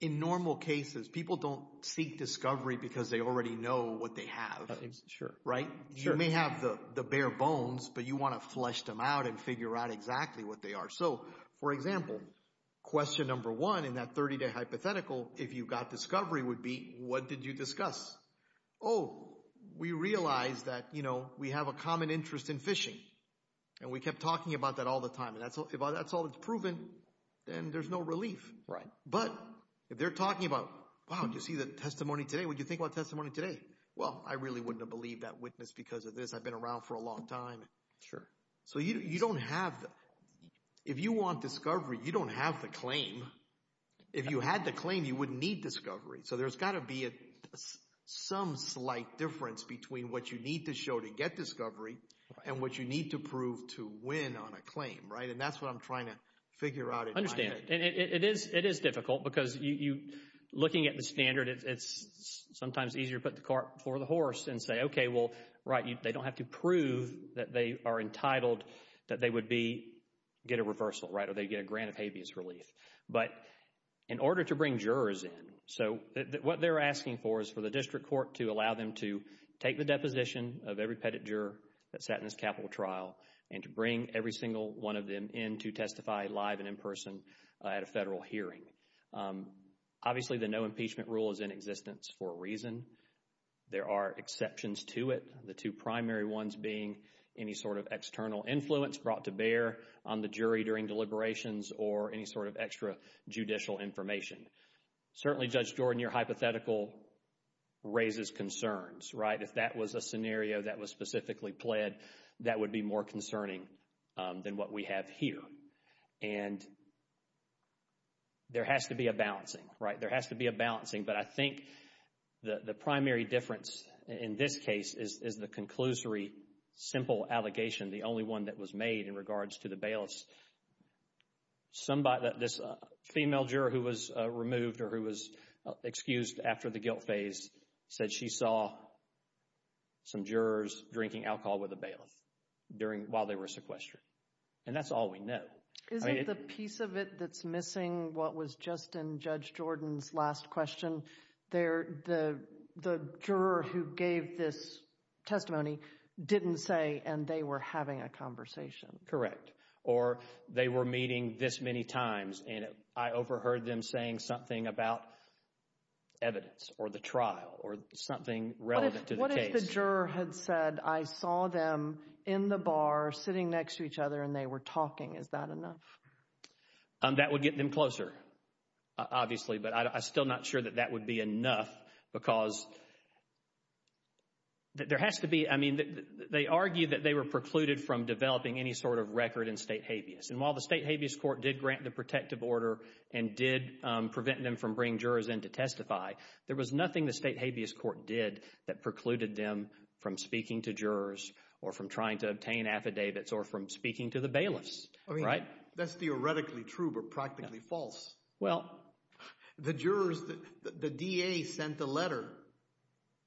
In normal cases, people don't seek discovery because they already know what they have. Sure. Right? You may have the bare bones, but you want to flesh them out and figure out exactly what they are. So, for example, question number one in that 30-day hypothetical, if you got discovery, would be, what did you discuss? Oh, we realized that we have a common interest in fishing. And we kept talking about that all the time. And if that's all that's proven, then there's no relief. Right. But if they're talking about, wow, did you see the testimony today? What did you think about testimony today? Well, I really wouldn't have believed that witness because of this. I've been around for a long time. Sure. So, you don't have... If you want discovery, you don't have the claim. If you had the claim, you wouldn't need discovery. So, there's got to be some slight difference between what you need to show to get discovery and what you need to prove to win on a claim. Right? And that's what I'm trying to figure out in my head. I understand. And it is difficult. Because you, looking at the standard, it's sometimes easier to put the cart before the horse and say, okay, well, right, they don't have to prove that they are entitled, that they would be, get a reversal, right? Or they get a grant of habeas relief. But in order to bring jurors in, so what they're asking for is for the district court to allow them to take the deposition of every pettit juror that sat in this capital trial and to bring every single one of them in to testify live and in person at a federal hearing. Obviously, the no impeachment rule is in existence for a reason. There are exceptions to it. The two primary ones being any sort of external influence brought to bear on the jury during deliberations or any sort of extra judicial information. Certainly, Judge Jordan, your hypothetical raises concerns, right? If that was a scenario that was specifically pled, that would be more concerning than what we have here. And there has to be a balancing, right? There has to be a balancing. But I think the primary difference in this case is the conclusory, simple allegation, the only one that was made in regards to the bailiffs. This female juror who was removed or who was excused after the guilt phase said she saw some jurors drinking alcohol with a bailiff during, while they were sequestered. And that's all we know. Isn't the piece of it that's missing what was just in Judge Jordan's last question? There, the juror who gave this testimony didn't say and they were having a conversation. Correct. Or they were meeting this many times and I overheard them saying something about evidence or the trial or something relevant to the case. The juror had said, I saw them in the bar sitting next to each other and they were talking. Is that enough? That would get them closer, obviously, but I'm still not sure that that would be enough because there has to be, I mean, they argue that they were precluded from developing any sort of record in state habeas. And while the state habeas court did grant the protective order and did prevent them from bringing jurors in to testify, there was nothing the state habeas court did that prevented them from speaking to jurors or from trying to obtain affidavits or from speaking to the bailiffs, right? That's theoretically true, but practically false. Well. The jurors, the DA sent a letter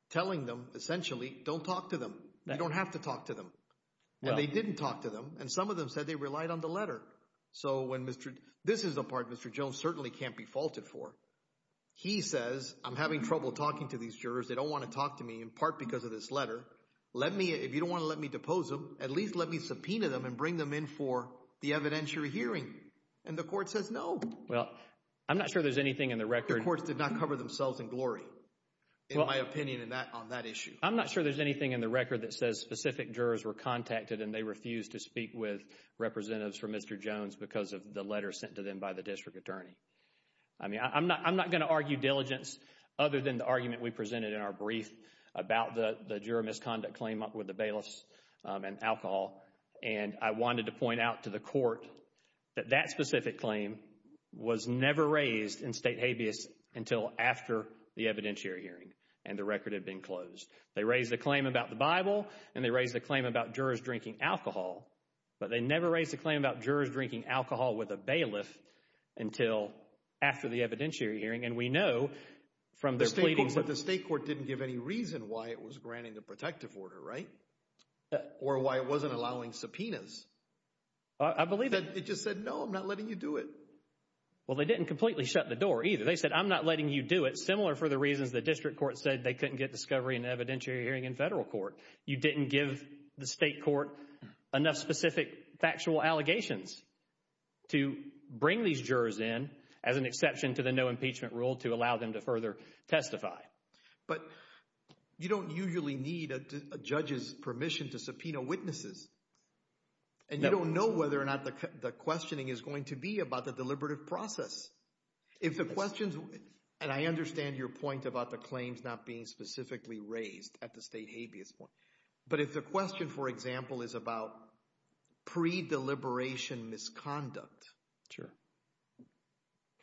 telling them, essentially, don't talk to them. You don't have to talk to them. They didn't talk to them and some of them said they relied on the letter. So when Mr., this is the part Mr. Jones certainly can't be faulted for. He says, I'm having trouble talking to these jurors. They don't want to talk to me in part because of this letter. If you don't want to let me depose them, at least let me subpoena them and bring them in for the evidentiary hearing. And the court says no. Well, I'm not sure there's anything in the record. The courts did not cover themselves in glory, in my opinion, on that issue. I'm not sure there's anything in the record that says specific jurors were contacted and they refused to speak with representatives for Mr. Jones because of the letter sent to them by the district attorney. I mean, I'm not going to argue diligence other than the argument we presented in our brief about the juror misconduct claim with the bailiffs and alcohol. And I wanted to point out to the court that that specific claim was never raised in state habeas until after the evidentiary hearing and the record had been closed. They raised the claim about the Bible and they raised the claim about jurors drinking alcohol, but they never raised the claim about jurors drinking alcohol with a bailiff until after the evidentiary hearing. And we know from their pleadings that the state court didn't give any reason why it was granting the protective order, right? Or why it wasn't allowing subpoenas. I believe that. It just said, no, I'm not letting you do it. Well, they didn't completely shut the door either. They said, I'm not letting you do it. Similar for the reasons the district court said they couldn't get discovery and evidentiary hearing in federal court. You didn't give the state court enough specific factual allegations to bring these jurors in as an exception to the no impeachment rule to allow them to further testify. But you don't usually need a judge's permission to subpoena witnesses. And you don't know whether or not the questioning is going to be about the deliberative process. If the questions, and I understand your point about the claims not being specifically raised at the state habeas point, but if the question, for example, is about pre-deliberation misconduct,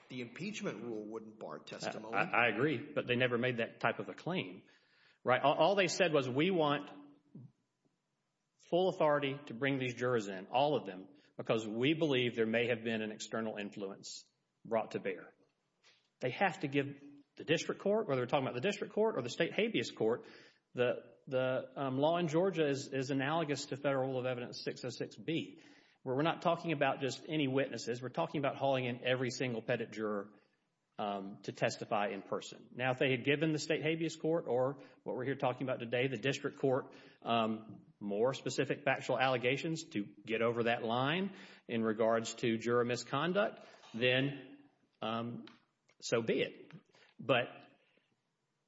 the impeachment rule wouldn't bar testimony. I agree. But they never made that type of a claim, right? All they said was, we want full authority to bring these jurors in, all of them, because we believe there may have been an external influence brought to bear. They have to give the district court, whether we're talking about the district court or the state habeas court, the law in Georgia is analogous to Federal Rule of Evidence 606b, where we're not talking about just any witnesses. We're talking about hauling in every single pettit juror to testify in person. Now, if they had given the state habeas court or what we're here talking about today, the district court, more specific factual allegations to get over that line in regards to juror misconduct, then so be it. But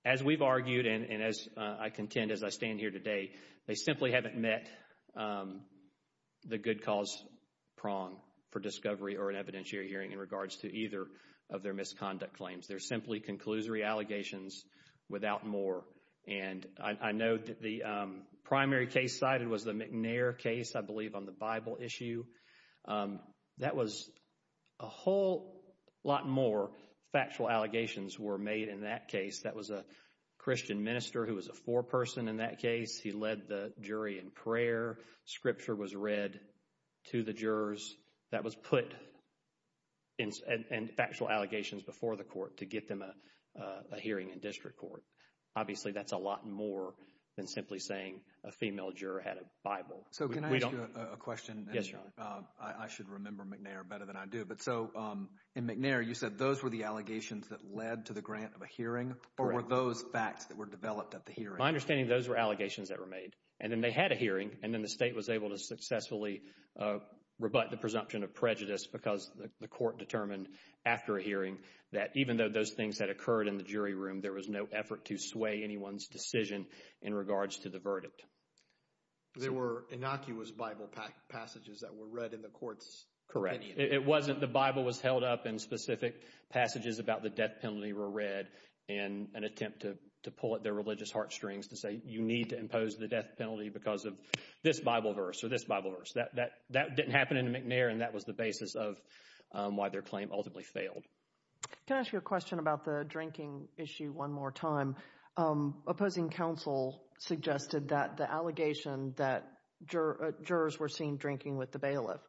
as we've argued and as I contend as I stand here today, they simply haven't met the good cause prong for discovery or an evidentiary hearing in regards to either of their misconduct claims. They're simply conclusory allegations without more. And I know that the primary case cited was the McNair case, I believe, on the Bible issue. That was a whole lot more. Factual allegations were made in that case. That was a Christian minister who was a foreperson in that case. He led the jury in prayer. Scripture was read to the jurors. That was put in factual allegations before the court to get them a hearing in district court. Obviously, that's a lot more than simply saying a female juror had a Bible. So can I ask you a question? Yes, John. I should remember McNair better than I do. But so in McNair, you said those were the allegations that led to the grant of a hearing or were those facts that were developed at the hearing? My understanding, those were allegations that were made and then they had a hearing and then the state was able to successfully rebut the presumption of prejudice because the court determined after a hearing that even though those things had occurred in the jury room, there was no effort to sway anyone's decision in regards to the verdict. There were innocuous Bible passages that were read in the courts? Correct. It wasn't. The Bible was held up and specific passages about the death penalty were read in an attempt to pull at their religious heartstrings to say you need to impose the death penalty because of this Bible verse or this Bible verse. That didn't happen in McNair and that was the basis of why their claim ultimately failed. Can I ask you a question about the drinking issue one more time? Opposing counsel suggested that the allegation that jurors were seen drinking with the bailiff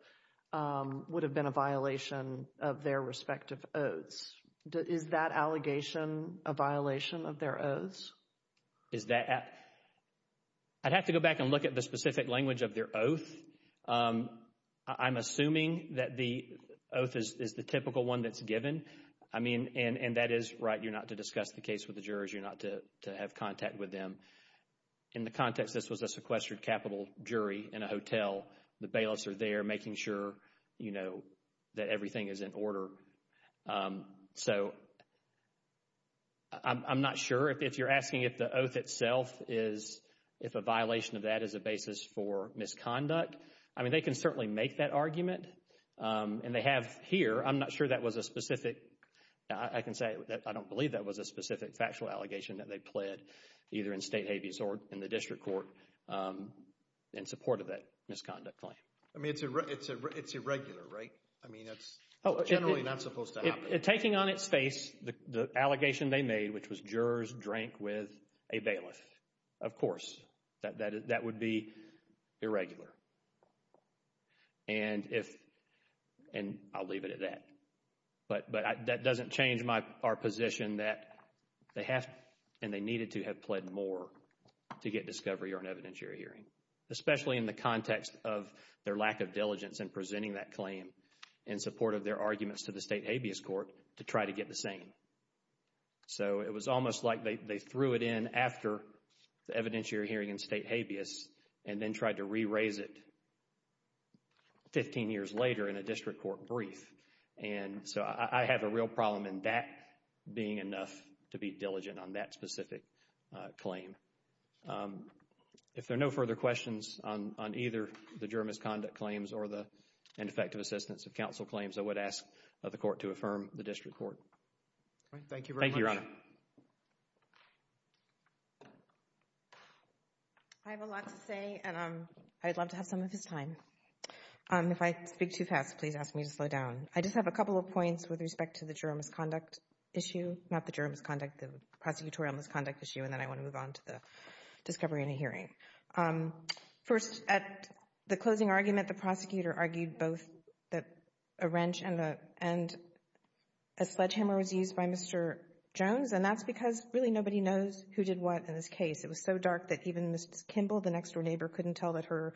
would have been a violation of their respective oaths. Is that allegation a violation of their oaths? Is that, I'd have to go back and look at the specific language of their oath. I'm assuming that the oath is the typical one that's given. I mean, and that is right. You're not to discuss the case with the jurors. You're not to have contact with them. In the context, this was a sequestered capital jury in a hotel. The bailiffs are there making sure, you know, that everything is in order. So, I'm not sure if you're asking if the oath itself is, if a violation of that is a basis for misconduct. I mean, they can certainly make that argument and they have here. I'm not sure that was a specific, I can say that I don't believe that was a specific factual allegation that they pled either in state habeas or in the district court in support of that misconduct claim. I mean, it's irregular, right? I mean, that's generally not supposed to happen. Taking on its face, the allegation they made, which was jurors drank with a bailiff, of course, that would be irregular. And if, and I'll leave it at that. But that doesn't change our position that they have, and they needed to, have pled more to get discovery or an evidentiary hearing, especially in the context of their lack of diligence in presenting that claim in support of their arguments to the state habeas court to try to get the same. So, it was almost like they threw it in after the evidentiary hearing in state habeas and then tried to re-raise it 15 years later in a district court brief. And so, I have a real problem in that being enough to be diligent on that specific claim. If there are no further questions on either the juror misconduct claims or the ineffective assistance of counsel claims, I would ask the court to affirm the district court. All right. Thank you very much. Thank you, Your Honor. I have a lot to say, and I'd love to have some of his time. If I speak too fast, please ask me to slow down. I just have a couple of points with respect to the juror misconduct issue, not the juror misconduct, the prosecutorial misconduct issue, and then I want to move on to the discovery in a hearing. First, at the closing argument, the prosecutor argued both that a wrench and a sledgehammer was used by Mr. Jones, and that's because really nobody knows who did what in this case. It was so dark that even Ms. Kimball, the next-door neighbor, couldn't tell that her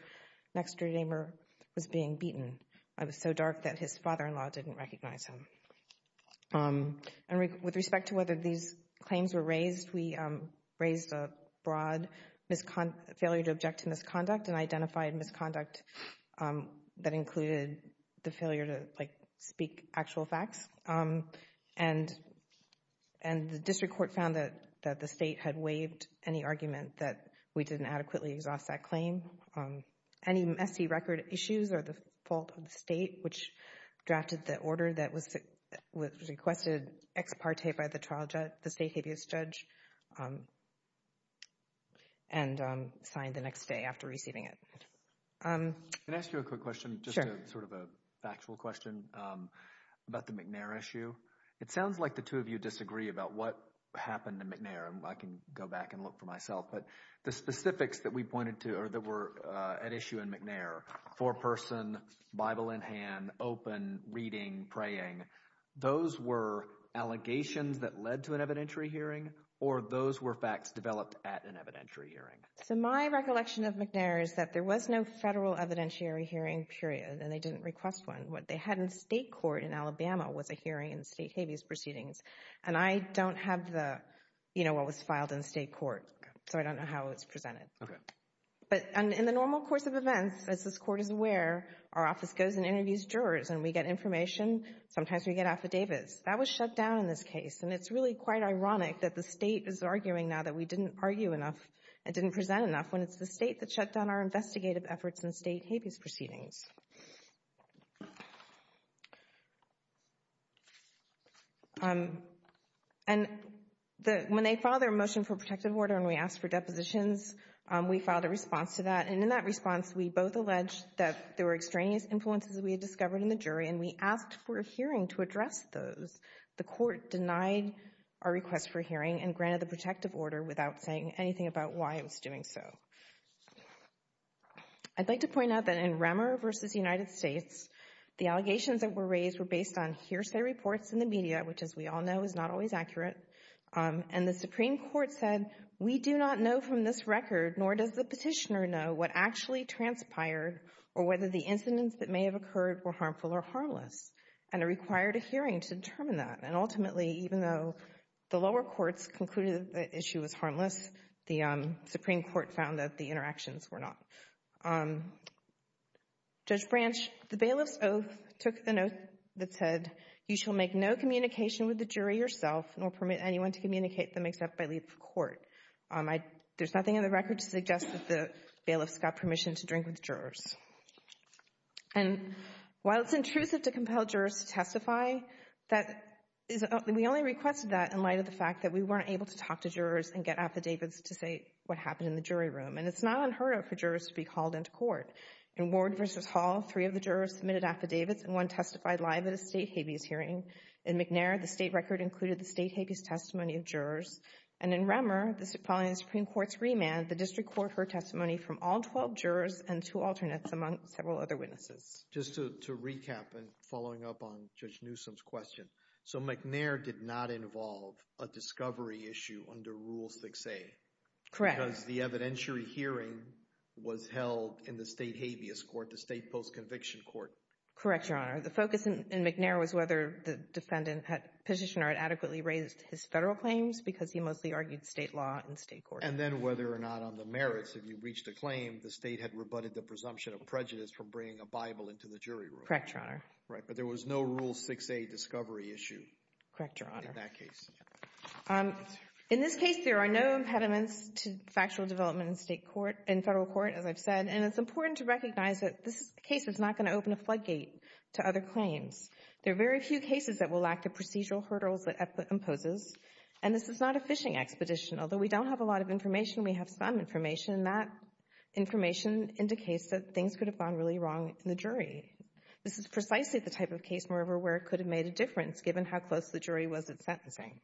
next-door neighbor was being beaten. It was so dark that his father-in-law didn't recognize him. And with respect to whether these claims were raised, we raised a broad failure to object to misconduct and identified misconduct that included the failure to, like, speak actual facts. And the district court found that the state had waived any argument that we didn't adequately exhaust that claim. Any messy record issues are the fault of the state, which drafted the order that was requested ex parte by the state habeas judge and signed the next day after receiving it. Can I ask you a quick question? Sure. Sort of a factual question about the McNair issue. It sounds like the two of you disagree about what happened to McNair. I can go back and look for myself, but the specifics that we pointed to, or that were at issue in McNair, four-person, Bible in hand, open, reading, praying, those were allegations that led to an evidentiary hearing, or those were facts developed at an evidentiary hearing? So my recollection of McNair is that there was no federal evidentiary hearing period, and they didn't request one. What they had in state court in Alabama was a hearing in state habeas proceedings, and I don't have the, you know, what was filed in state court, so I don't know how it's presented. Okay. But in the normal course of events, as this court is aware, our office goes and interviews jurors, and we get information. Sometimes we get affidavits. That was shut down in this case, and it's really quite ironic that the state is arguing now that we didn't argue enough and didn't present enough when it's the state that shut down our investigative efforts in state habeas proceedings. And when they filed their motion for protective order and we asked for depositions, we filed a response to that, and in that response, we both alleged that there were extraneous influences that we had discovered in the jury, and we asked for a hearing to address those. The court denied our request for a hearing and granted the protective order without saying anything about why it was doing so. I'd like to point out that in Remmer v. United States, the allegations that were raised were based on hearsay reports in the media, which, as we all know, is not always accurate, and the Supreme Court said, we do not know from this record, nor does the petitioner know, what actually transpired or whether the incidents that may have occurred were harmful or harmless, and it required a hearing to determine that, and ultimately, even though the lower courts concluded that the issue was harmless, the Supreme Court found that the interactions were not. Judge Branch, the bailiff's oath took the note that said, you shall make no communication with the jury yourself nor permit anyone to communicate them except by leave of court. There's nothing in the record to suggest that the bailiff's got permission to drink with jurors. And while it's intrusive to compel jurors to testify, we only requested that in light of the fact that we weren't able to talk to jurors and get affidavits to say what happened in the jury room, and it's not unheard of for jurors to be called into court. In Ward v. Hall, three of the jurors submitted affidavits, and one testified live at a state habeas hearing. In McNair, the state record included the state habeas testimony of jurors, and in Remmer, following the Supreme Court's remand, the district court heard testimony from all 12 defendants, among several other witnesses. Just to recap, and following up on Judge Newsom's question, so McNair did not involve a discovery issue under Rule 6a? Correct. Because the evidentiary hearing was held in the state habeas court, the state post-conviction court? Correct, Your Honor. The focus in McNair was whether the defendant, petitioner, had adequately raised his federal claims because he mostly argued state law in state court. And then whether or not on the merits, if you reached a claim, the state had rebutted the presumption of prejudice from bringing a Bible into the jury room? Correct, Your Honor. Right. But there was no Rule 6a discovery issue? Correct, Your Honor. In that case. In this case, there are no impediments to factual development in state court, in federal court, as I've said. And it's important to recognize that this case is not going to open a floodgate to other claims. There are very few cases that will lack the procedural hurdles that EPPLA imposes, and this is not a fishing expedition. Although we don't have a lot of information, we have some information, and that information indicates that things could have gone really wrong in the jury. This is precisely the type of case, moreover, where it could have made a difference, given how close the jury was at sentencing.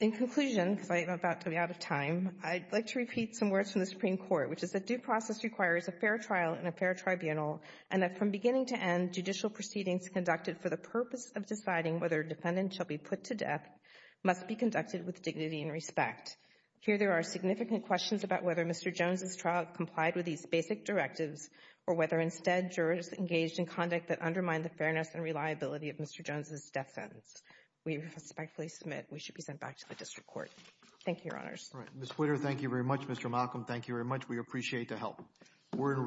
In conclusion, because I'm about to be out of time, I'd like to repeat some words from the Supreme Court, which is that due process requires a fair trial in a fair tribunal, and that from beginning to end, judicial proceedings conducted for the purpose of deciding whether a defendant shall be put to death must be conducted with dignity and respect. Here, there are significant questions about whether Mr. Jones' trial complied with these basic directives, or whether instead jurors engaged in conduct that undermined the fairness and reliability of Mr. Jones' death sentence. We respectfully submit we should be sent back to the district court. Thank you, Your Honors. All right. Ms. Whitter, thank you very much. Mr. Malcolm, thank you very much. We appreciate the help. We're in recess.